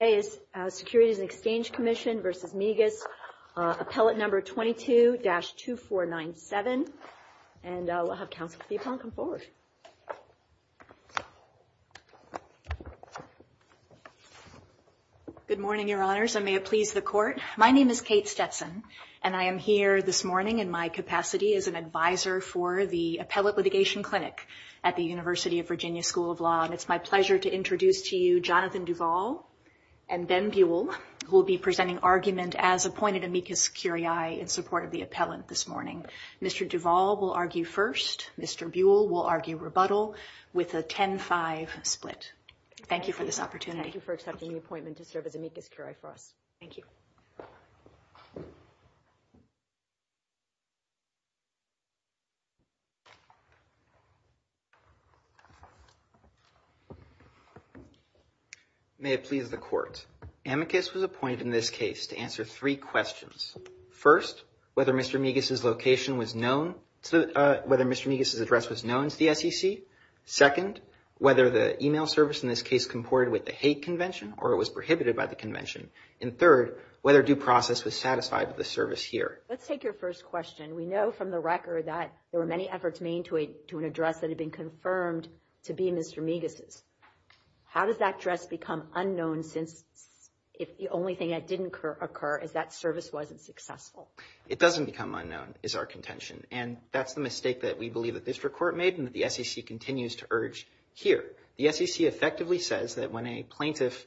Today is Securities&Exchange Commission v. Migas, Appellate No. 22-2497, and we'll have Counsel Thiephan come forward. Good morning, Your Honors, and may it please the Court. My name is Kate Stetson, and I am here this morning in my capacity as an advisor for the Appellate Litigation Clinic at the University of Virginia School of Law, and it's my pleasure to introduce to you Jonathan Duvall and Ben Buell, who will be presenting argument as appointed amicus curiae in support of the appellant this morning. Mr. Duvall will argue first. Mr. Buell will argue rebuttal with a 10-5 split. Thank you for this opportunity. Thank you for accepting the appointment to serve as amicus curiae for us. Thank you. May it please the Court. Amicus was appointed in this case to answer three questions. First, whether Mr. Migas' address was known to the SEC. Second, whether the email service in this case comported with the Hague Convention or was prohibited by the Convention. And third, whether due process was satisfied with the service here. Let's take your first question. We know from the record that there were many efforts made to an address that had been confirmed to be Mr. Migas'. How does that address become unknown since the only thing that didn't occur is that service wasn't successful? It doesn't become unknown, is our contention, and that's the mistake that we believe that this Court made and that the SEC continues to urge here. The SEC effectively says that when a plaintiff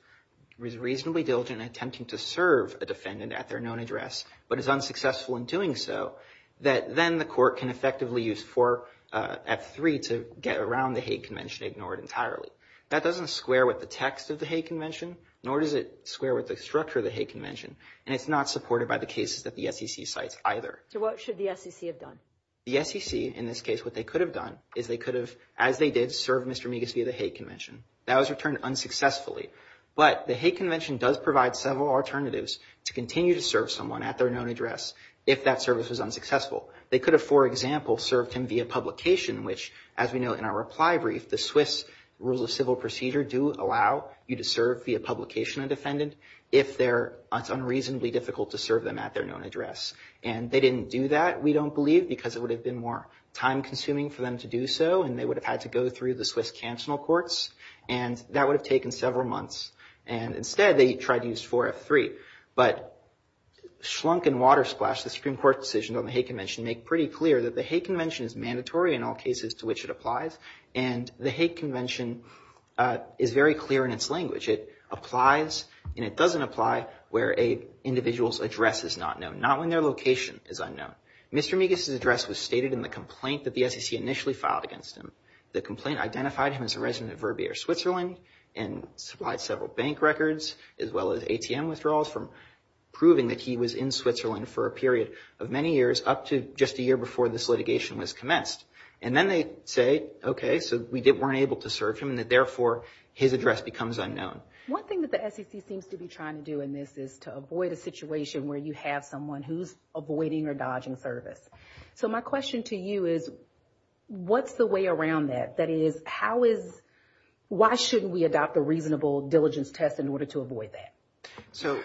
is reasonably diligent in attempting to serve a defendant at their known address but is unsuccessful in doing so, that then the Court can effectively use 4F3 to get around the Hague Convention and ignore it entirely. That doesn't square with the text of the Hague Convention, nor does it square with the structure of the Hague Convention, and it's not supported by the cases that the SEC cites either. So what should the SEC have done? The SEC, in this case, what they could have done is they could have, as they did, served Mr. Migas' via the Hague Convention. That was returned unsuccessfully. But the Hague Convention does provide several alternatives to continue to serve someone at their known address if that service was unsuccessful. They could have, for example, served him via publication, which, as we know in our reply brief, the Swiss Rules of Civil Procedure do allow you to serve via publication a defendant if it's unreasonably difficult to serve them at their known address. And they didn't do that, we don't believe, because it would have been more time-consuming for them to do so, and they would have had to go through the Swiss Cancellal Courts, and that would have taken several months. And instead, they tried to use 4F3. But schlunk and water splash, the Supreme Court decision on the Hague Convention make pretty clear that the Hague Convention is mandatory in all cases to which it applies, and the Hague Convention is very clear in its language. It applies and it doesn't apply where an individual's address is not known, not when their location is unknown. Mr. Migas's address was stated in the complaint that the SEC initially filed against him. The complaint identified him as a resident of Verbier, Switzerland, and supplied several bank records as well as ATM withdrawals from proving that he was in Switzerland for a period of many years up to just a year before this litigation was commenced. And then they say, okay, so we weren't able to serve him, and that therefore his address becomes unknown. One thing that the SEC seems to be trying to do in this is to avoid a situation where you have someone who's avoiding or dodging service. So my question to you is, what's the way around that? That is, how is, why shouldn't we adopt a reasonable diligence test in order to avoid that? So,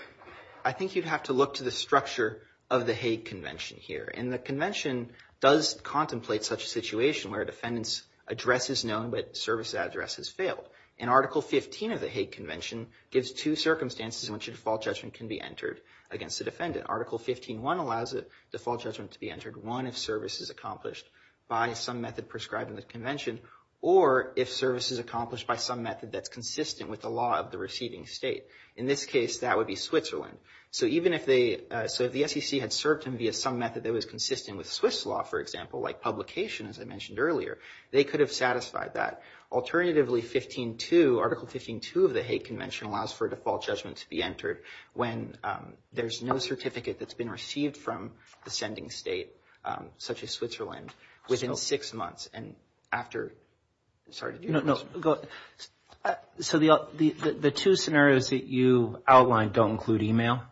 I think you'd have to look to the structure of the Hague Convention here, and the convention does contemplate such a situation where a defendant's address is known but service address has failed. And Article 15 of the Hague Convention gives two circumstances in which a default judgment can be entered against the defendant. Article 15.1 allows a default judgment to be entered, one, if service is accomplished by some method prescribed in the convention, or if service is accomplished by some method that's consistent with the law of the receiving state. In this case, that would be Switzerland. So even if they, so if the SEC had served him via some method that was consistent with Swiss law, for example, like publication, as I mentioned earlier, they could have satisfied that. Alternatively, 15.2, Article 15.2 of the Hague Convention allows for a default judgment to be entered when there's no certificate that's been received from the sending state, such as Switzerland, within six months and after, sorry, did you have a question? So the two scenarios that you outlined don't include email.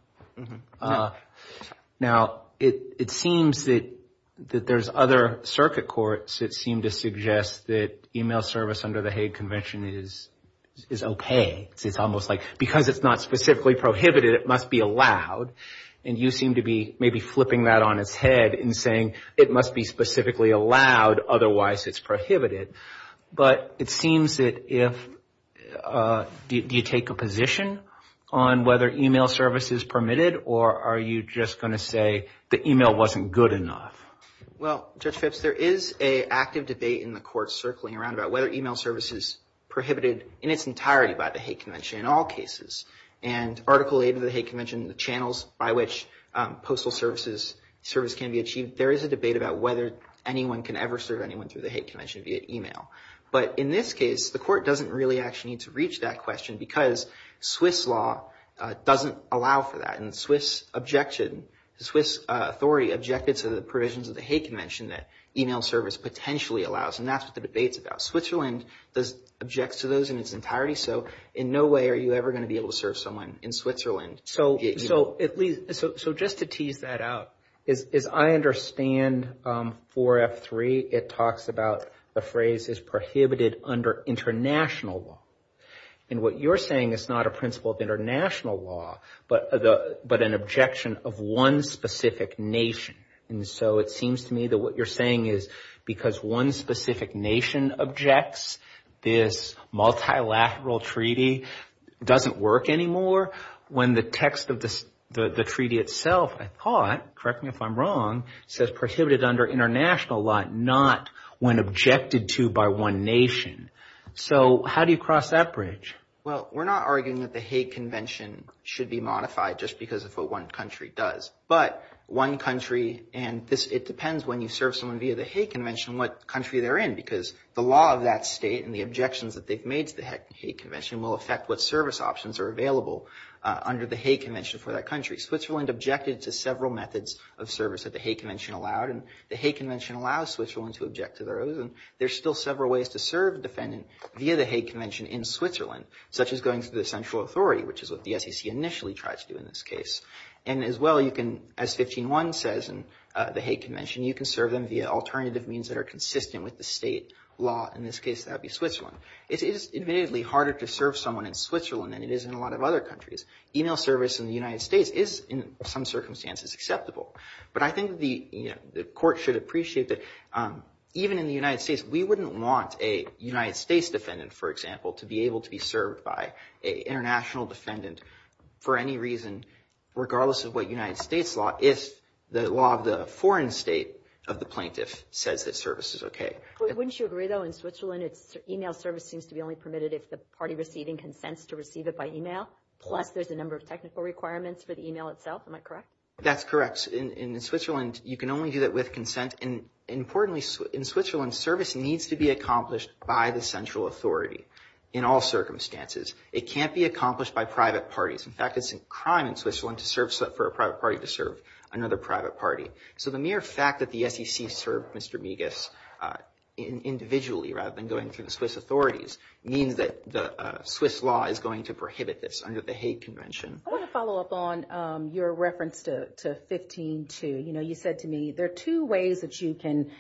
Now it seems that there's other circuit courts that seem to suggest that email service under the Hague Convention is okay. It's almost like because it's not specifically prohibited, it must be allowed. And you seem to be maybe flipping that on its head and saying it must be specifically allowed, otherwise it's prohibited. But it seems that if, do you take a position on whether email service is permitted or are you just going to say the email wasn't good enough? Well, Judge Phipps, there is an active debate in the court circling around about whether email service is prohibited in its entirety by the Hague Convention in all cases. And Article 8 of the Hague Convention, the channels by which postal service can be achieved, there is a debate about whether anyone can ever serve anyone through the Hague Convention via email. But in this case, the court doesn't really actually need to reach that question because Swiss law doesn't allow for that, and the Swiss authority objected to the provisions of the Hague Convention that email service potentially allows, and that's what the debate's about. Switzerland objects to those in its entirety, so in no way are you ever going to be able to serve someone in Switzerland. So just to tease that out, as I understand 4F3, it talks about the phrase is prohibited under international law. And what you're saying is not a principle of international law, but an objection of one specific nation. And so it seems to me that what you're saying is because one specific nation objects, this multilateral treaty doesn't work anymore when the text of the treaty itself, I thought, correct me if I'm wrong, says prohibited under international law, not when objected to by one nation. So how do you cross that bridge? Well, we're not arguing that the Hague Convention should be modified just because of what one country does. But one country, and it depends when you serve someone via the Hague Convention what country they're in, because the law of that state and the objections that they've made to the Hague Convention will affect what service options are available under the Hague Convention for that country. Switzerland objected to several methods of service that the Hague Convention allowed, and the Hague Convention allows Switzerland to object to those, and there's still several ways to serve a defendant via the Hague Convention in Switzerland, such as going to the central That's what we try to do in this case. And as well, you can, as 15.1 says in the Hague Convention, you can serve them via alternative means that are consistent with the state law. In this case, that would be Switzerland. It is admittedly harder to serve someone in Switzerland than it is in a lot of other countries. Email service in the United States is, in some circumstances, acceptable. But I think the court should appreciate that even in the United States, we wouldn't want a United States defendant, for example, to be able to be served by an international defendant for any reason, regardless of what United States law, if the law of the foreign state of the plaintiff says that service is okay. Wouldn't you agree, though, in Switzerland, email service seems to be only permitted if the party receiving consents to receive it by email, plus there's a number of technical requirements for the email itself, am I correct? That's correct. In Switzerland, you can only do that with consent, and importantly, in Switzerland, service needs to be accomplished by the central authority in all circumstances. It can't be accomplished by private parties. In fact, it's a crime in Switzerland for a private party to serve another private party. So the mere fact that the SEC served Mr. Migas individually, rather than going through the Swiss authorities, means that the Swiss law is going to prohibit this under the Hague Convention. I want to follow up on your reference to 15-2. You know, you said to me, there are two ways that you can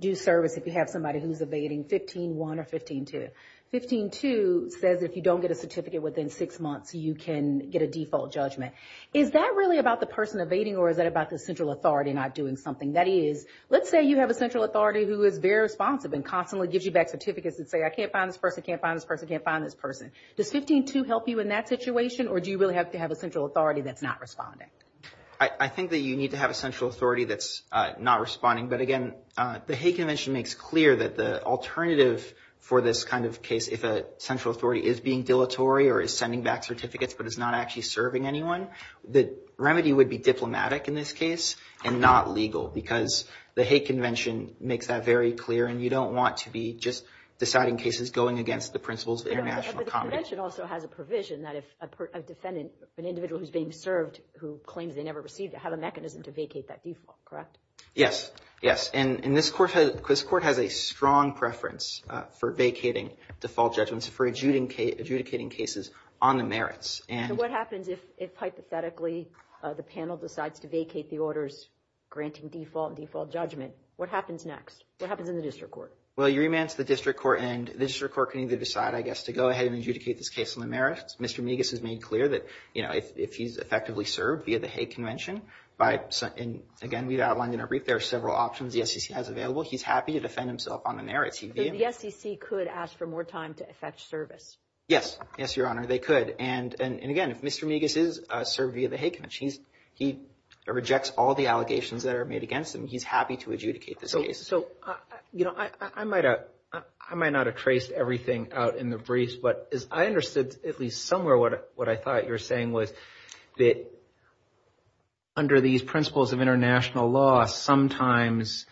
do service if you have somebody who's evading 15-1 or 15-2. 15-2 says if you don't get a certificate within six months, you can get a default judgment. Is that really about the person evading, or is that about the central authority not doing something? That is, let's say you have a central authority who is very responsive and constantly gives you back certificates that say, I can't find this person, can't find this person, can't find this person. Does 15-2 help you in that situation, or do you really have to have a central authority that's not responding? I think that you need to have a central authority that's not responding, but again, the Hague alternative for this kind of case, if a central authority is being dilatory or is sending back certificates but is not actually serving anyone, the remedy would be diplomatic in this case and not legal, because the Hague Convention makes that very clear, and you don't want to be just deciding cases going against the principles of international comity. But the convention also has a provision that if a defendant, an individual who's being served who claims they never received it, have a mechanism to vacate that default, correct? Yes. Yes. And this court has a strong preference for vacating default judgments for adjudicating cases on the merits. What happens if, hypothetically, the panel decides to vacate the orders granting default judgment? What happens next? What happens in the district court? Well, you remand to the district court, and the district court can either decide, I guess, to go ahead and adjudicate this case on the merits. Mr. Migas has made clear that if he's effectively served via the Hague Convention, and again, we outlined in our brief, there are several options the SEC has available. He's happy to defend himself on the merits. So the SEC could ask for more time to effect service? Yes. Yes, Your Honor, they could. And again, if Mr. Migas is served via the Hague Convention, he rejects all the allegations that are made against him. He's happy to adjudicate this case. So I might not have traced everything out in the briefs, but I understood at least somewhere what I thought you were saying was that under these principles of international law, sometimes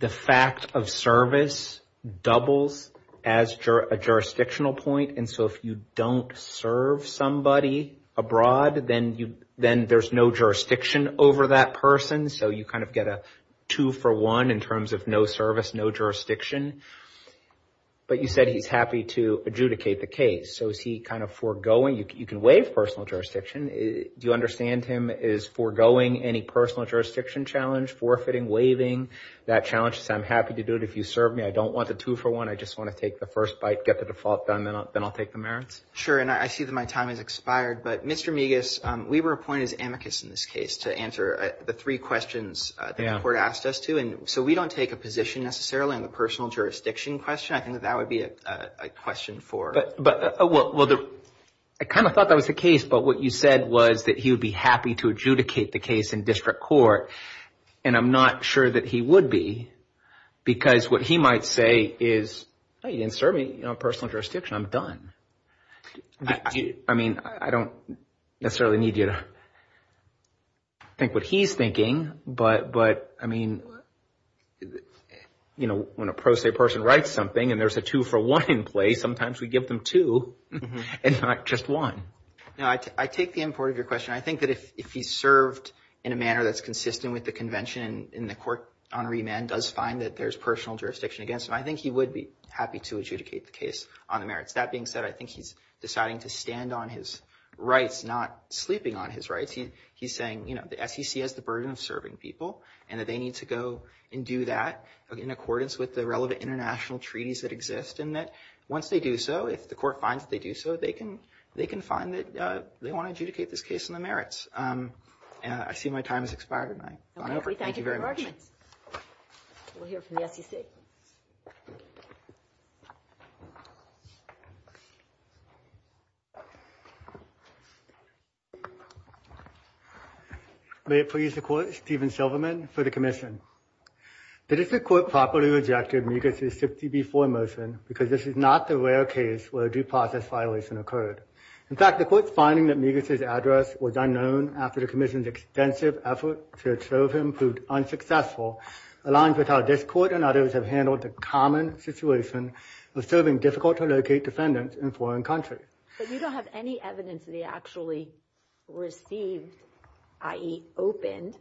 the fact of service doubles as a jurisdictional point. And so if you don't serve somebody abroad, then there's no jurisdiction over that person. So you kind of get a two for one in terms of no service, no jurisdiction. But you said he's happy to adjudicate the case. So is he kind of foregoing? You can waive personal jurisdiction. Do you understand him as foregoing any personal jurisdiction challenge, forfeiting, waiving that challenge? He says, I'm happy to do it if you serve me. I don't want the two for one. I just want to take the first bite, get the default done, then I'll take the merits? Sure. And I see that my time has expired. But Mr. Migas, we were appointed as amicus in this case to answer the three questions that the court asked us to. And so we don't take a position necessarily on the personal jurisdiction question. I think that that would be a question for— Well, I kind of thought that was the case. But what you said was that he would be happy to adjudicate the case in district court. And I'm not sure that he would be. Because what he might say is, hey, you didn't serve me, personal jurisdiction, I'm done. I mean, I don't necessarily need you to think what he's thinking. But I mean, when a pro se person writes something and there's a two for one in place, sometimes we give them two and not just one. No, I take the import of your question. I think that if he served in a manner that's consistent with the convention and the court honoree man does find that there's personal jurisdiction against him, I think he would be happy to adjudicate the case on the merits. That being said, I think he's deciding to stand on his rights, not sleeping on his rights. He's saying, you know, the SEC has the burden of serving people and that they need to go and do that in accordance with the relevant international treaties that exist. And that once they do so, if the court finds that they do so, they can find that they want to adjudicate this case on the merits. I see my time has expired and I'm over. Thank you very much. Thank you for your arguments. We'll hear from the SEC. May it please the court, Steven Silverman for the commission. The district court properly rejected Migas' 60B4 motion because this is not the rare case where a due process violation occurred. In fact, the court's finding that Migas' address was unknown after the commission's extensive effort to observe him proved unsuccessful, along with how this court and others have handled the common situation of serving difficult-to-locate defendants in foreign countries. But you don't have any evidence that he actually received, i.e. opened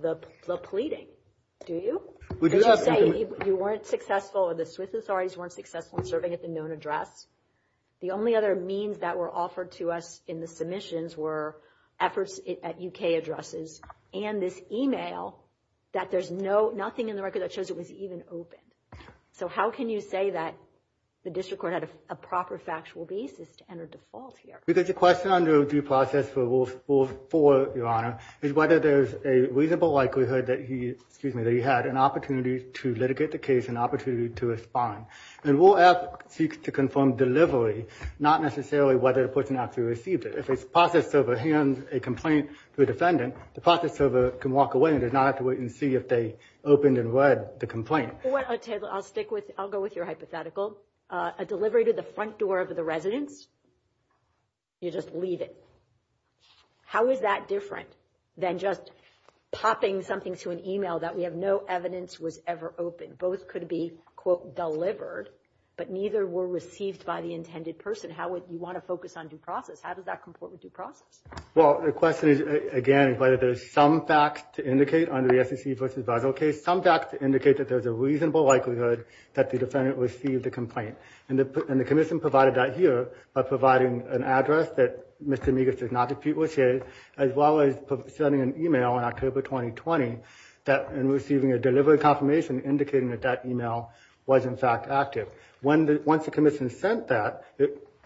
the pleading, do you? Did you say you weren't successful or the Swiss authorities weren't successful in serving at the known address? The only other means that were offered to us in the submissions were efforts at UK addresses and this email that there's nothing in the record that shows it was even opened. So how can you say that the district court had a proper factual basis to enter default here? Because the question under due process for Rule 4, Your Honor, is whether there's a reasonable likelihood that he had an opportunity to litigate the case, an opportunity to respond. And Rule F seeks to confirm delivery, not necessarily whether the person actually received it. If a process server hands a complaint to a defendant, the process server can walk away and does not have to wait and see if they opened and read the complaint. I'll stick with, I'll go with your hypothetical. A delivery to the front door of the residence, you just leave it. How is that different than just popping something to an email that we have no evidence was ever opened? Both could be, quote, delivered, but neither were received by the intended person. How would you want to focus on due process? How does that comport with due process? Well, the question is, again, whether there's some facts to indicate under the SEC v. Basel case, some facts indicate that there's a reasonable likelihood that the defendant received the complaint. And the commission provided that here by providing an address that Mr. Migas did not dispute was shared, as well as sending an email in October 2020 and receiving a delivery confirmation indicating that that email was, in fact, active. Once the commission sent that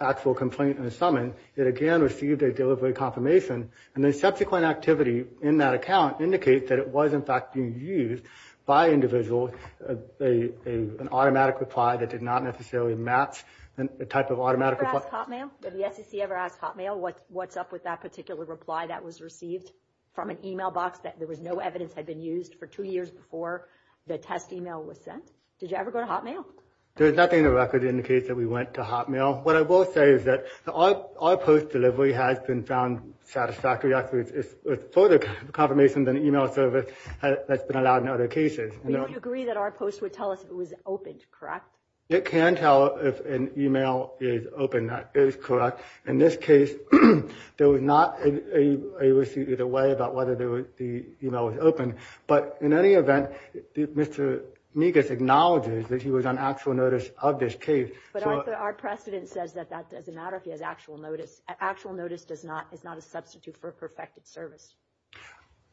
actual complaint in the summons, it again received a delivery confirmation. And the subsequent activity in that account indicates that it was, in fact, being used by individuals, an automatic reply that did not necessarily match the type of automatic reply. Did the SEC ever ask Hotmail what's up with that particular reply that was received from an email box that there was no evidence had been used for two years before the test email was sent? Did you ever go to Hotmail? There's nothing in the record that indicates that we went to Hotmail. What I will say is that our post delivery has been found satisfactory, actually, with further confirmation than the email service that's been allowed in other cases. But you would agree that our post would tell us if it was opened, correct? It can tell if an email is open, that is correct. In this case, there was not a receipt either way about whether the email was opened. But in any event, Mr. Migas acknowledges that he was on actual notice of this case. But our precedent says that that doesn't matter if he has actual notice. Actual notice is not a substitute for perfected service.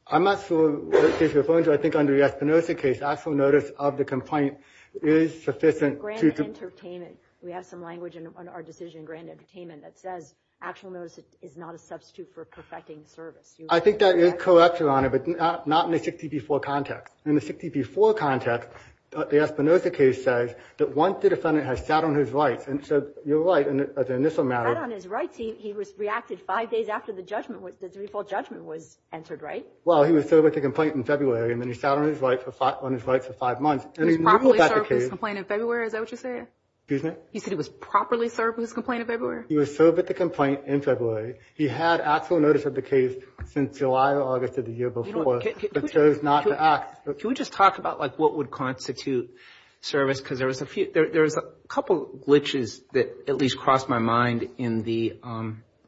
I'm not sure what case you're referring to. I think under the Espinoza case, actual notice of the complaint is sufficient to- Grand Entertainment. We have some language in our decision in Grand Entertainment that says actual notice is not a substitute for perfecting service. I think that is correct, Your Honor, but not in the 60 v. 4 context. In the 60 v. 4 context, the Espinoza case says that once the defendant has sat on his rights, and so you're right in the initial matter- Sat on his rights, he reacted five days after the judgment, the three-fold judgment was entered, right? Well, he was served with the complaint in February, and then he sat on his rights for five months, and he moved back to the case- He was properly served with his complaint in February, is that what you're saying? Excuse me? You said he was properly served with his complaint in February? He was served with the complaint in February. He had actual notice of the case since July or August of the year before, but chose not to act. Can we just talk about what would constitute service? Because there was a couple glitches that at least crossed my mind in the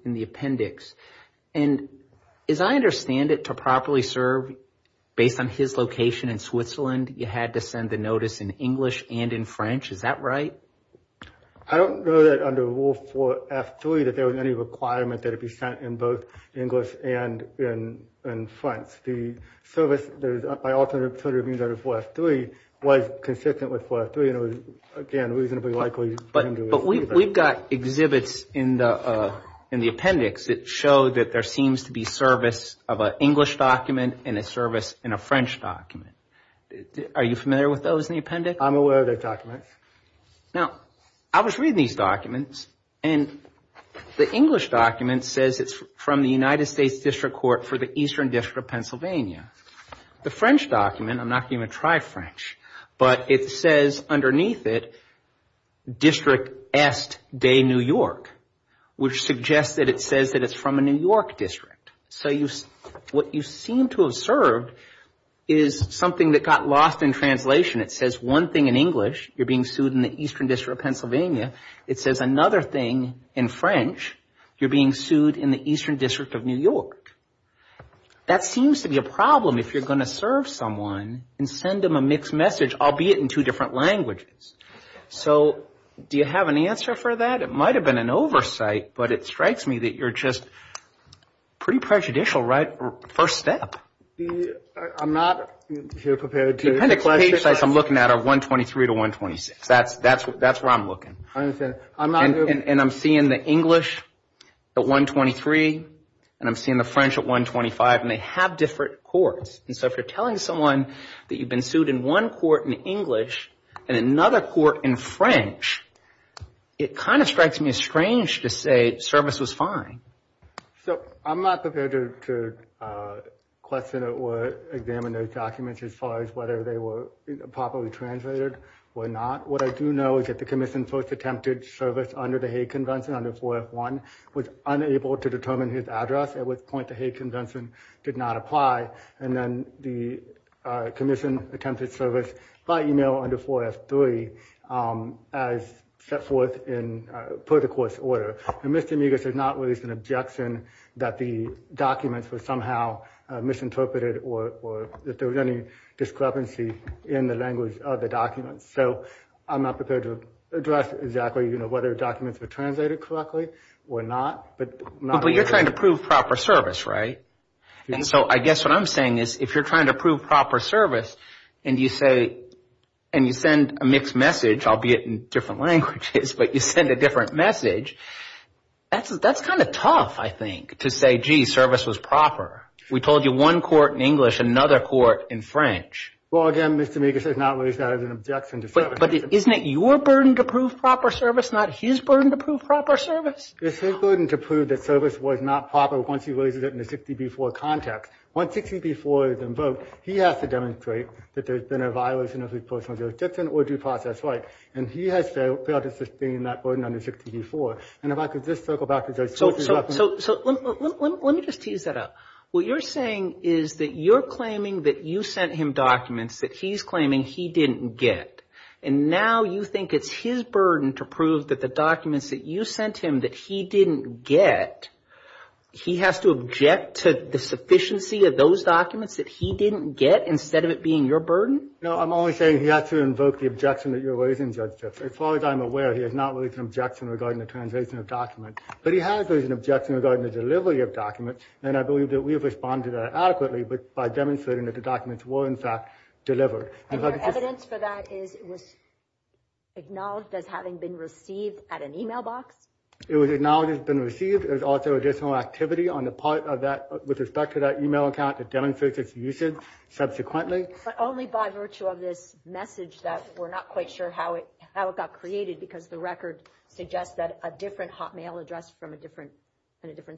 appendix. And as I understand it, to properly serve based on his location in Switzerland, you had to send the notice in English and in French. Is that right? I don't know that under Rule 4 F3 that there was any requirement that it be sent in both English and in French. The service by alternative means under 4 F3 was consistent with 4 F3, and it was, again, reasonably likely- But we've got exhibits in the appendix that show that there seems to be service of an English document and a service in a French document. Are you familiar with those in the appendix? I'm aware of those documents. Now, I was reading these documents, and the English document says it's from the United States of Pennsylvania. The French document, I'm not going to even try French, but it says underneath it, District Est de New York, which suggests that it says that it's from a New York district. So what you seem to have served is something that got lost in translation. It says one thing in English, you're being sued in the Eastern District of Pennsylvania. It says another thing in French, you're being sued in the Eastern District of New York. That seems to be a problem if you're going to serve someone and send them a mixed message, albeit in two different languages. So do you have an answer for that? It might have been an oversight, but it strikes me that you're just pretty prejudicial, right? First step. I'm not here prepared to- The appendix page size I'm looking at are 123 to 126. That's where I'm looking. I understand. I'm not- English at 123, and I'm seeing the French at 125, and they have different courts. So if you're telling someone that you've been sued in one court in English and another court in French, it kind of strikes me as strange to say service was fine. So I'm not prepared to question or examine those documents as far as whether they were properly translated or not. What I do know is that the commission first attempted service under the Hague Convention, under 4F1, was unable to determine his address at which point the Hague Convention did not apply. And then the commission attempted service by email under 4F3 as set forth in per the court's order. And Mr. Migas has not raised an objection that the documents were somehow misinterpreted or that there was any discrepancy in the language of the documents. So I'm not prepared to address exactly whether documents were translated correctly or not. But you're trying to prove proper service, right? And so I guess what I'm saying is if you're trying to prove proper service and you send a mixed message, albeit in different languages, but you send a different message, that's kind of tough, I think, to say, gee, service was proper. We told you one court in English, another court in French. Well, again, Mr. Migas has not raised that as an objection to service. But isn't it your burden to prove proper service, not his burden to prove proper service? It's his burden to prove that service was not proper once he raises it in the 60B4 context. Once 60B4 is invoked, he has to demonstrate that there's been a violation of his personal jurisdiction or due process right. And he has failed to sustain that burden under 60B4. And if I could just circle back to Judge Switzer's reference. So let me just tease that out. What you're saying is that you're claiming that you sent him documents that he's claiming he didn't get. And now you think it's his burden to prove that the documents that you sent him that he didn't get, he has to object to the sufficiency of those documents that he didn't get instead of it being your burden? No, I'm only saying he has to invoke the objection that you're raising, Judge Gifford. As far as I'm aware, he has not raised an objection regarding the translation of documents. But he has raised an objection regarding the delivery of documents. And I believe that we have responded adequately by demonstrating that the documents were, in fact, delivered. And your evidence for that is it was acknowledged as having been received at an email box? It was acknowledged as being received. There's also additional activity on the part of that with respect to that email account that demonstrates its usage subsequently. But only by virtue of this message that we're not quite sure how it got created because the record suggests that a different hotmail address from a different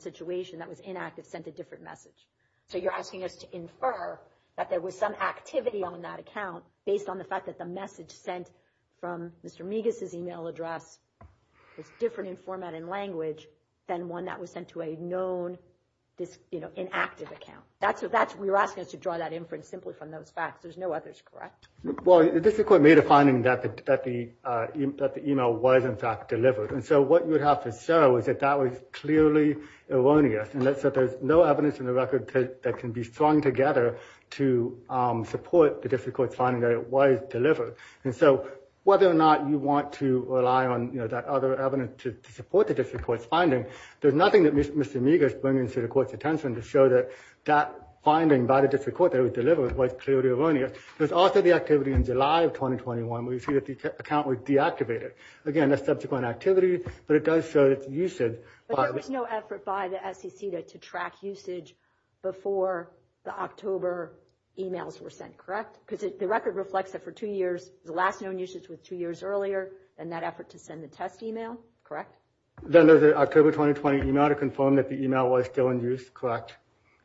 situation that was inactive sent a different message. So you're asking us to infer that there was some activity on that account based on the fact that the message sent from Mr. Migas's email address was different in format and language than one that was sent to a known, you know, inactive account. That's what we were asking us to draw that inference simply from those facts. There's no others, correct? Well, the dissequent made a finding that the email was, in fact, delivered. And so what you would have to show is that that was clearly erroneous. So there's no evidence in the record that can be strung together to support the district court's finding that it was delivered. And so whether or not you want to rely on that other evidence to support the district court's finding, there's nothing that Mr. Migas brings to the court's attention to show that that finding by the district court that it was delivered was clearly erroneous. There's also the activity in July of 2021 where you see that the account was deactivated. Again, that's subsequent activity, but it does show its usage. But there was no effort by the SEC to track usage before the October emails were sent, correct? Because the record reflects that for two years, the last known usage was two years earlier than that effort to send the test email, correct? Then there's the October 2020 email to confirm that the email was still in use, correct?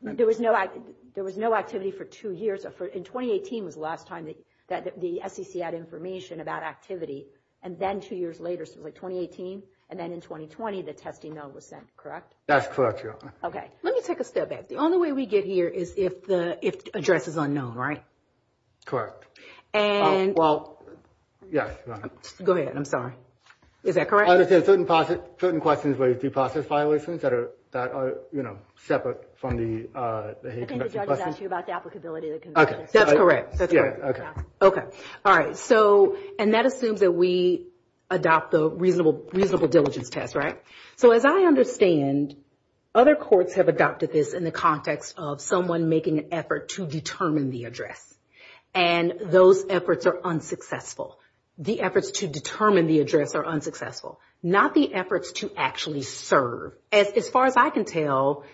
There was no activity for two years. In 2018 was the last time that the SEC had information about activity. And then two years later, so it's like 2018. And then in 2020, the test email was sent, correct? That's correct, Your Honor. Okay. Let me take a step back. The only way we get here is if the address is unknown, right? Correct. And... Well... Yes, Your Honor. Go ahead. I'm sorry. Is that correct? I understand certain questions related to process violations that are, you know, separate from the... I think the judge is asking about the applicability of the... Okay. That's correct. That's correct. Okay. Okay. All right. And that assumes that we adopt the reasonable diligence test, right? So as I understand, other courts have adopted this in the context of someone making an effort to determine the address. And those efforts are unsuccessful. The efforts to determine the address are unsuccessful. Not the efforts to actually serve. As far as I can tell,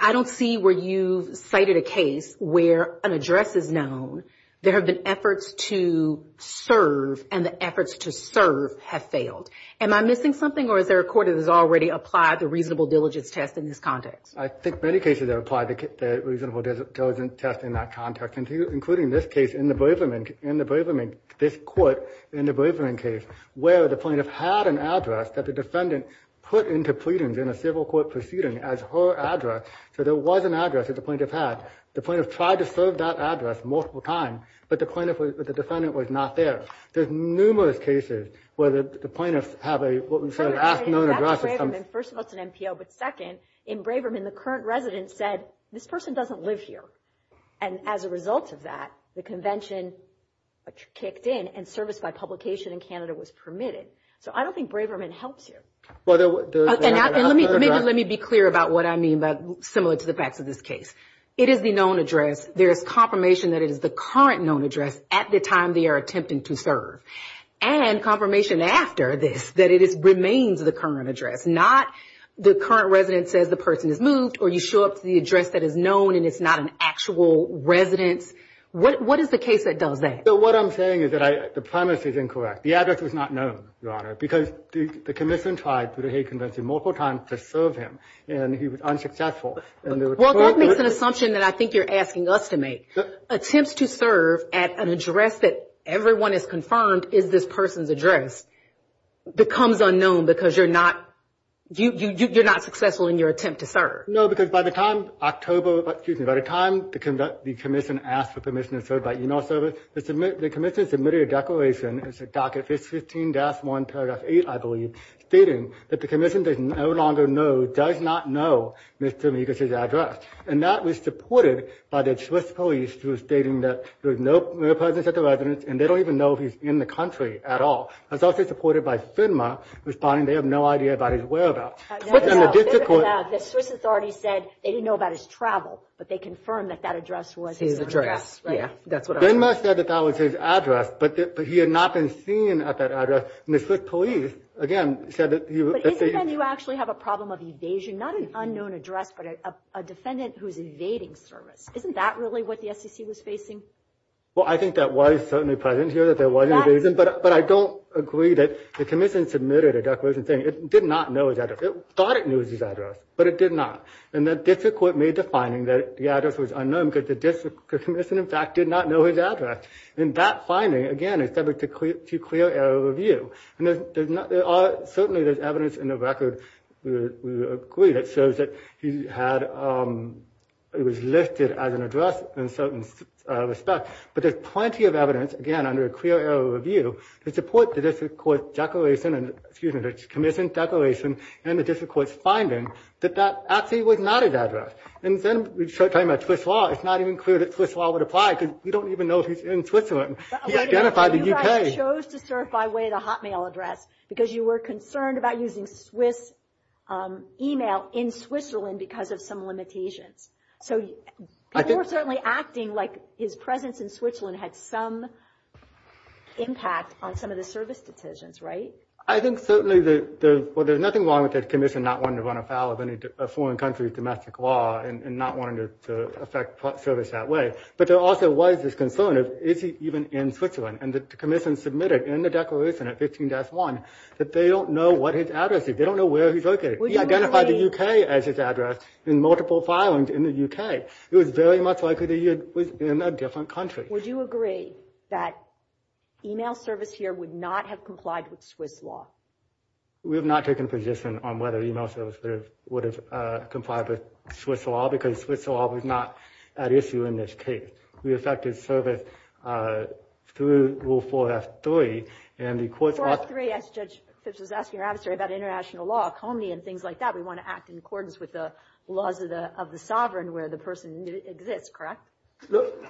I don't see where you've cited a case where an address is known. There have been efforts to serve. And the efforts to serve have failed. Am I missing something? Or is there a court that has already applied the reasonable diligence test in this context? I think many cases have applied the reasonable diligence test in that context. Including this case in the Braverman... In the Braverman... This court in the Braverman case where the plaintiff had an address that the defendant put into pleadings in a civil court proceeding as her address. So there was an address that the plaintiff had. The plaintiff tried to serve that address multiple times. But the plaintiff... The defendant was not there. There's numerous cases where the plaintiffs have a, what we say, an unknown address. First of all, it's an NPO. But second, in Braverman, the current resident said, this person doesn't live here. And as a result of that, the convention kicked in and service by publication in Canada was permitted. So I don't think Braverman helps here. And let me be clear about what I mean, but similar to the facts of this case. It is the known address. There is confirmation that it is the current known address at the time they are attempting to serve. And confirmation after this that it remains the current address. Not the current resident says the person has moved or you show up to the address that is known and it's not an actual residence. What is the case that does that? So what I'm saying is that the premise is incorrect. The address was not known, Your Honor. Because the commission tried through the hate convention multiple times to serve him. And he was unsuccessful. Well, that makes an assumption that I think you're asking us to make. Attempts to serve at an address that everyone is confirmed is this person's address becomes unknown because you're not successful in your attempt to serve. No, because by the time October, excuse me, by the time the commission asked for permission to serve by email service, the commission submitted a declaration. It's a docket 15-1 paragraph 8, I believe, stating that the commission does no longer does not know Mr. Amigos' address. And that was supported by the Swiss police through stating that there's no presence at the residence and they don't even know if he's in the country at all. It's also supported by FINMA responding they have no idea about his whereabouts. The Swiss authorities said they didn't know about his travel, but they confirmed that that address was his address. Yeah, that's what I said. That was his address, but he had not been seen at that address. And the Swiss police, again, said that you. You actually have a problem of evasion, not an unknown address, but a defendant who's invading service. Isn't that really what the SEC was facing? Well, I think that was certainly present here, that there was an evasion, but I don't agree that the commission submitted a declaration saying it did not know his address. It thought it knew his address, but it did not. And the district court made the finding that the address was unknown because the district commission, in fact, did not know his address. And that finding, again, is subject to clear error review. And certainly, there's evidence in the record that shows that he was listed as an address in certain respects. But there's plenty of evidence, again, under a clear error review to support the commission's declaration and the district court's finding that that actually was not his address. And then we start talking about Swiss law. It's not even clear that Swiss law would apply because we don't even know if he's in Switzerland. He identified the UK. He chose to certify by way of the Hotmail address because you were concerned about using Swiss email in Switzerland because of some limitations. So people were certainly acting like his presence in Switzerland had some impact on some of the service decisions, right? I think certainly there's nothing wrong with the commission not wanting to run afoul of any foreign country's domestic law and not wanting to affect service that way. But there also was this concern of, is he even in Switzerland? And the commission submitted in the declaration at 15-1 that they don't know what his address is. They don't know where he's located. He identified the UK as his address in multiple filings in the UK. It was very much likely that he was in a different country. Would you agree that email service here would not have complied with Swiss law? We have not taken a position on whether email service would have complied with Swiss law because Swiss law was not at issue in this case. We affected service through Rule 4F3. And the courts ought to- Rule 4F3, as Judge Phipps was asking your adversary, about international law, comity, and things like that. We want to act in accordance with the laws of the sovereign where the person exists, correct?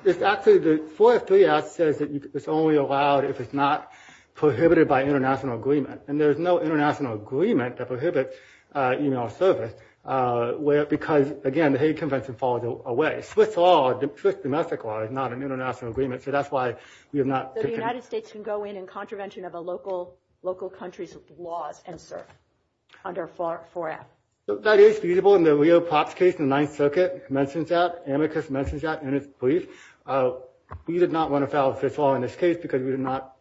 It's actually, the 4F3 act says that it's only allowed if it's not prohibited by international agreement. And there's no international agreement that prohibits email service because, again, the hate convention falls away. Swiss law, Swiss domestic law, is not an international agreement. So that's why we have not- So the United States can go in and contravention of a local country's laws and serve under 4F? That is feasible. In the Rio Pops case, the Ninth Circuit mentions that. Amicus mentions that in its brief. We did not want to file a Swiss law in this case because we did not,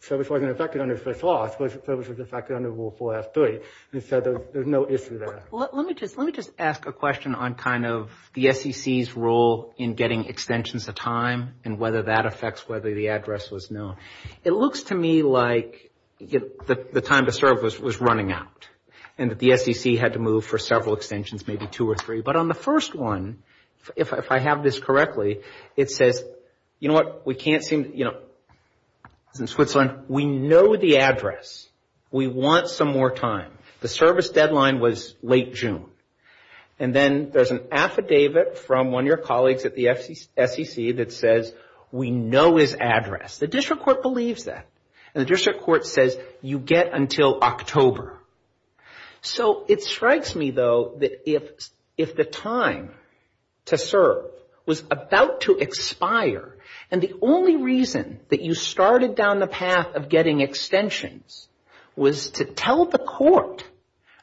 service wasn't affected under Swiss law. Service was affected under Rule 4F3. And so there's no issue there. Let me just ask a question on kind of the SEC's role in getting extensions of time and whether that affects whether the address was known. It looks to me like the time to serve was running out and that the SEC had to move for several extensions, maybe two or three. But on the first one, if I have this correctly, it says, you know what, we can't seem, you know, in Switzerland, we know the address. We want some more time. The service deadline was late June. And then there's an affidavit from one of your colleagues at the SEC that says, we know his address. The district court believes that. And the district court says, you get until October. So it strikes me, though, that if the time to serve was about to expire and the only reason that you started down the path of getting extensions was to tell the court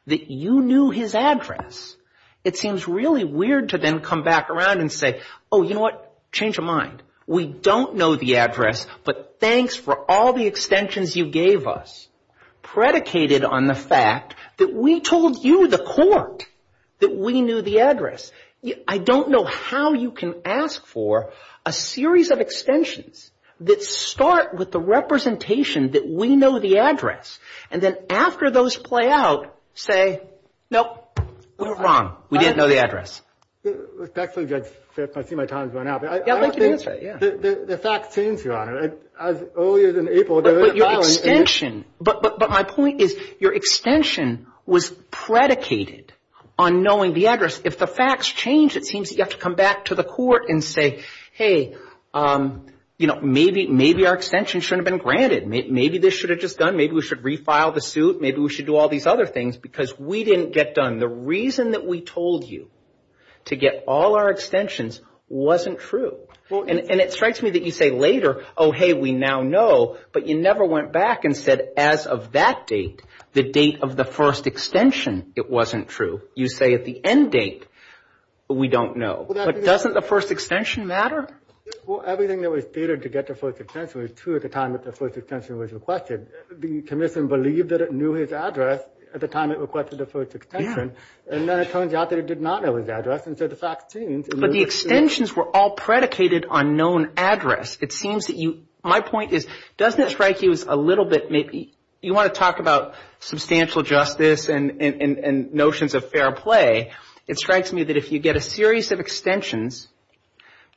that you knew his address, it seems really weird to then come back around and say, oh, you know what, change of mind. We don't know the address, but thanks for all the extensions you gave us predicated on the fact that we told you, the court, that we knew the address. I don't know how you can ask for a series of extensions that start with the representation that we know the address. And then after those play out, say, nope, we were wrong. We didn't know the address. That's a good tip. I see my time's run out. But I don't think the facts change, Your Honor. As early as in April, there is a violence. But my point is, your extension was predicated on knowing the address. If the facts change, it seems that you have to come back to the court and say, hey, maybe our extension shouldn't have been granted. Maybe this should have just done. Maybe we should refile the suit. Maybe we should do all these other things because we didn't get done. The reason that we told you to get all our extensions wasn't true. And it strikes me that you say later, oh, hey, we now know. But you never went back and said, as of that date, the date of the first extension, it wasn't true. You say at the end date, we don't know. But doesn't the first extension matter? Well, everything that was stated to get the first extension was true at the time that the first extension was requested. The commission believed that it knew his address at the time it requested the first extension. And then it turns out that it did not know his address. And so the facts change. But the extensions were all predicated on known address. It seems that you, my point is, doesn't it strike you as a little bit maybe, you want to talk about substantial justice and notions of fair play, it strikes me that if you get a series of extensions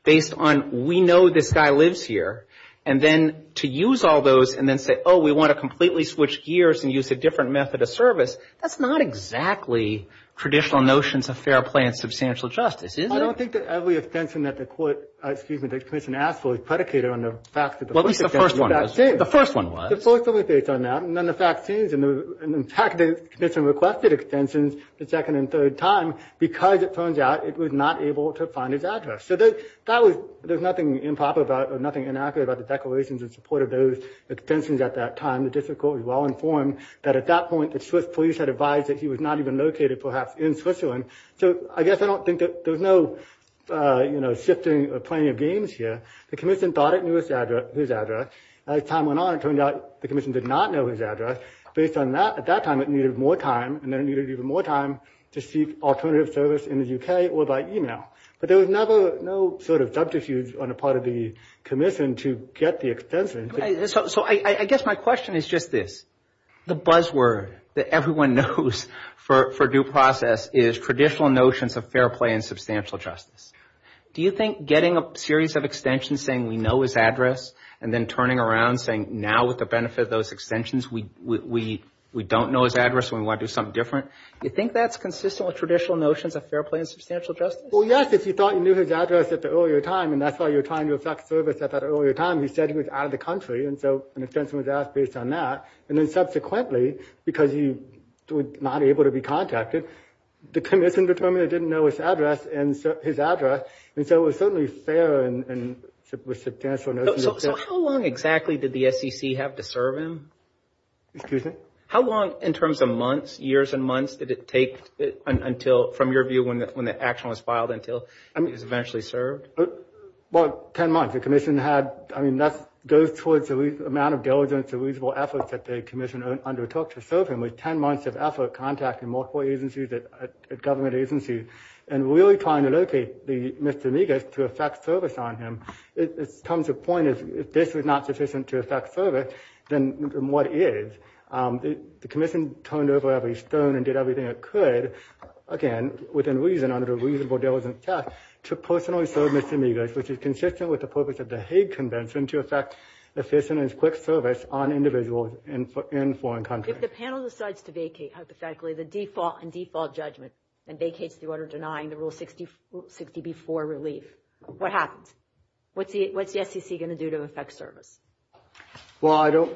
based on we know this guy lives here, and then to use all those and then say, oh, we want to completely switch gears and use a different method of service, that's not exactly traditional notions of fair play and substantial justice, is it? I don't think that every extension that the court, excuse me, the commission asked for is predicated on the fact that the first extension was backdated. Well, at least the first one was. The first one was. The first one was based on that. And then the facts changed. And in fact, the commission requested extensions the second and third time because it turns out it was not able to find his address. So there's nothing improper about or nothing inaccurate about the declarations in support of those extensions at that time. The district court was well informed that at that point, the Swiss police had advised that he was not even located perhaps in Switzerland. So I guess I don't think that there's no shifting or playing of games here. The commission thought it knew his address. As time went on, it turned out the commission did not know his address. Based on that, at that time, it needed more time. And then it needed even more time to seek alternative service in the UK or by email. But there was never no sort of subterfuge on the part of the commission to get the extension. So I guess my question is just this. The buzzword that everyone knows for due process is traditional notions of fair play and substantial justice. Do you think getting a series of extensions saying we know his address and then turning around saying now with the benefit of those extensions, we don't know his address and we want to do something different, you think that's consistent with traditional notions of fair play and substantial justice? Well, yes. If you thought you knew his address at the earlier time, and that's why you're trying to effect service at that earlier time, he said he was out of the country. And so an extension was asked based on that. And then subsequently, because he was not able to be contacted, the commission determined they didn't know his address. And so it was certainly fair and with substantial notions. So how long exactly did the SEC have to serve him? Excuse me? How long in terms of months, years and months did it take from your view when the action was filed until he was eventually served? Well, 10 months. The commission had, I mean, that goes towards the amount of diligence and reasonable efforts that the commission undertook to serve him. 10 months of effort, contacting multiple agencies, government agencies, and really trying to locate Mr. Migas to effect service on him. It comes to the point, if this was not sufficient to effect service, then what is? The commission turned over every stone and did everything it could, again, within reason under the reasonable diligence test, to personally serve Mr. Migas, which is consistent with the purpose of the Hague Convention to effect efficient and quick service on individuals in foreign countries. If the panel decides to vacate, hypothetically, the default and default judgment and vacates the order denying the Rule 60b-4 relief, what happens? What's the SEC going to do to effect service? Well, I don't.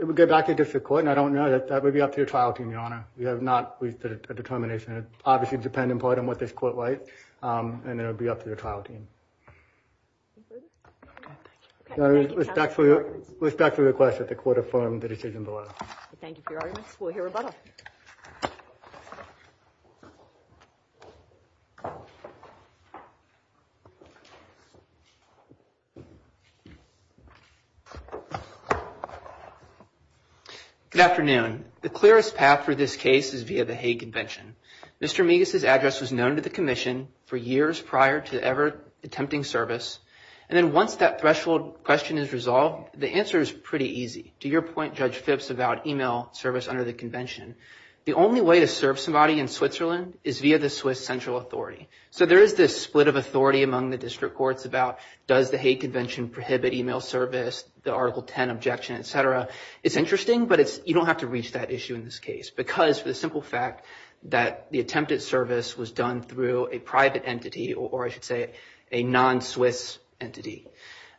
It would go back to the district court, and I don't know. That would be up to your trial team, Your Honor. We have not reached a determination. It would obviously depend, in part, on what this court writes, and it would be up to the trial team. Respectfully request that the court affirm the decision below. Thank you for your arguments. We'll hear rebuttal. Good afternoon. The clearest path for this case is via the Hague Convention. Mr. Migas's address was known to the commission for years prior to ever attempting service, and then once that threshold question is resolved, the answer is pretty easy. To your point, Judge Phipps, about email service under the convention, the only way to serve somebody in Switzerland is via the Swiss central authority. So there is this split of authority among the district courts about does the Hague Convention prohibit email service, the Article 10 objection, et cetera. It's interesting, but you don't have to reach that issue in this case, because for the simple fact that the attempted service was done through a private entity, or I should say a non-Swiss entity.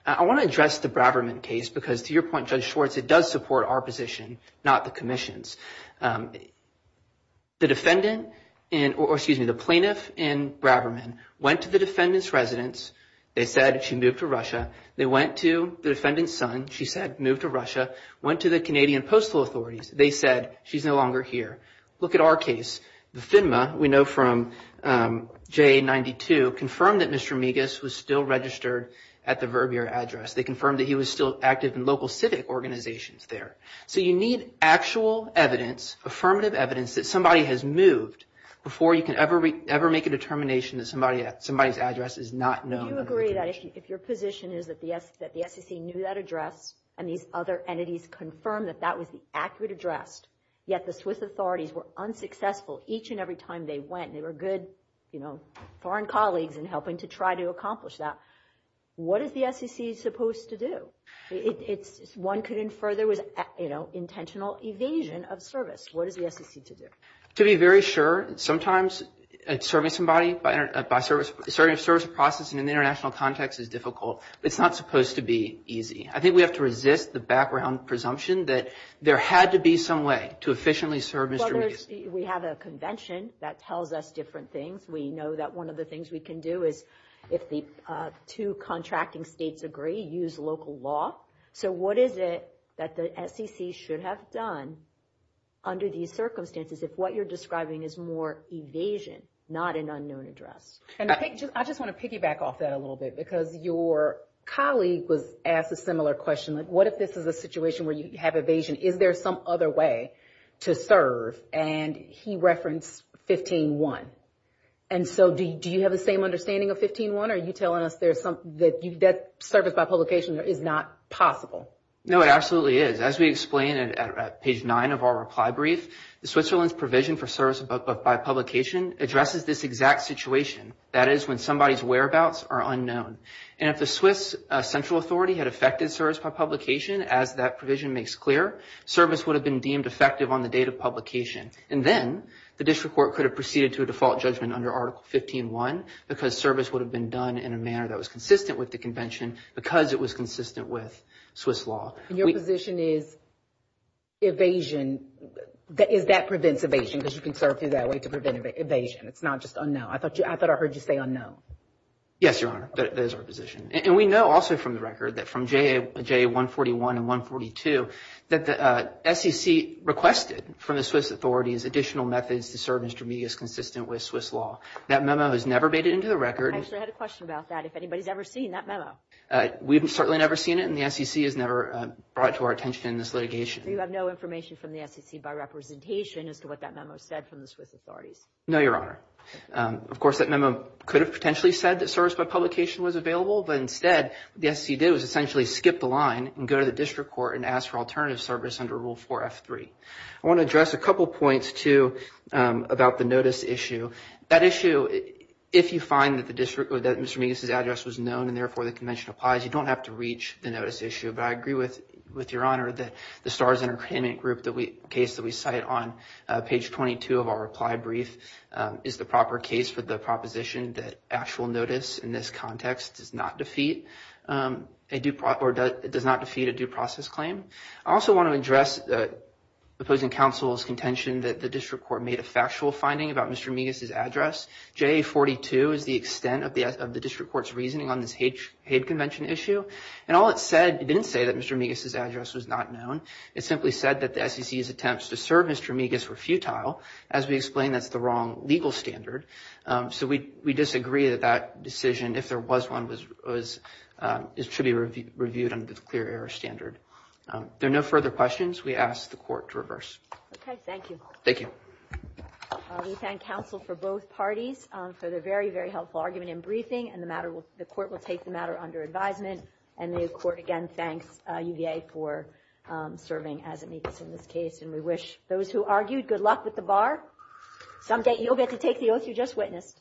I want to address the Braverman case, because to your point, Judge Schwartz, it does support our position, not the commission's. The defendant, or excuse me, the plaintiff in Braverman went to the defendant's residence. They said she moved to Russia. They went to the defendant's son. She said moved to Russia. Went to the Canadian postal authorities. They said she's no longer here. Look at our case. The FINMA, we know from JA92, confirmed that Mr. Migas was still registered at the Verbeer address. They confirmed that he was still active in local civic organizations there. So you need actual evidence, affirmative evidence, that somebody has moved before you can ever make a determination that somebody's address is not known. Do you agree that if your position is that the SEC knew that address and these other entities confirmed that that was the accurate address, yet the Swiss authorities were unsuccessful each and every time they went, and they were good foreign colleagues in helping to try to accomplish that, what is the SEC supposed to do? One could infer there was intentional evasion of service. What is the SEC to do? To be very sure, sometimes serving somebody, serving a service process in an international context is difficult. It's not supposed to be easy. I think we have to resist the background presumption that there had to be some way to efficiently serve Mr. Migas. We have a convention that tells us different things. We know that one of the things we can do is if the two contracting states agree, use local law. So what is it that the SEC should have done under these circumstances if what you're describing is more evasion, not an unknown address? And I just want to piggyback off that a little bit because your colleague was asked a similar question. What if this is a situation where you have evasion? Is there some other way to serve? And he referenced 15-1. And so do you have the same understanding of 15-1? Are you telling us that service by publication is not possible? No, it absolutely is. As we explained at page 9 of our reply brief, Switzerland's provision for service by publication addresses this exact situation. That is when somebody's whereabouts are unknown. And if the Swiss central authority had affected service by publication, as that provision makes clear, service would have been deemed effective on the date of publication. And then the district court could have proceeded to a default judgment under Article 15-1 because service would have been done in a manner that was consistent with the convention because it was consistent with Swiss law. Your position is evasion, is that prevents evasion because you can serve through that way to prevent evasion. It's not just unknown. I thought I heard you say unknown. Yes, Your Honor, that is our position. And we know also from the record that from JA-141 and 142, that the SEC requested from the Swiss authorities additional methods to serve Mr. Medias consistent with Swiss law. That memo has never made it into the record. I actually had a question about that. If anybody's ever seen that memo? We've certainly never seen it. And the SEC has never brought it to our attention in this litigation. Do you have no information from the SEC by representation as to what that memo said from the Swiss authorities? No, Your Honor. Of course, that memo could have potentially said that service by publication was available. Instead, what the SEC did was essentially skip the line and go to the district court and ask for alternative service under Rule 4F3. I want to address a couple of points, too, about the notice issue. That issue, if you find that Mr. Medias' address was known and therefore the convention applies, you don't have to reach the notice issue. But I agree with Your Honor that the STARS Entertainment Group case that we cite on page 22 of our reply brief is the proper case for the proposition that actual notice in this context does not defeat a due process claim. I also want to address the opposing counsel's contention that the district court made a factual finding about Mr. Medias' address. JA-42 is the extent of the district court's reasoning on this hate convention issue. And all it said, it didn't say that Mr. Medias' address was not known. It simply said that the SEC's attempts to serve Mr. Medias were futile. As we explained, that's the wrong legal standard. So we disagree that that decision, if there was one, should be reviewed under the clear error standard. There are no further questions. We ask the Court to reverse. Okay. Thank you. Thank you. We thank counsel for both parties for their very, very helpful argument and briefing. And the matter will, the Court will take the matter under advisement. And the Court, again, thanks UVA for serving as amicus in this case. And we wish those who argued good luck with the bar. Someday you'll get to take the oath you just witnessed.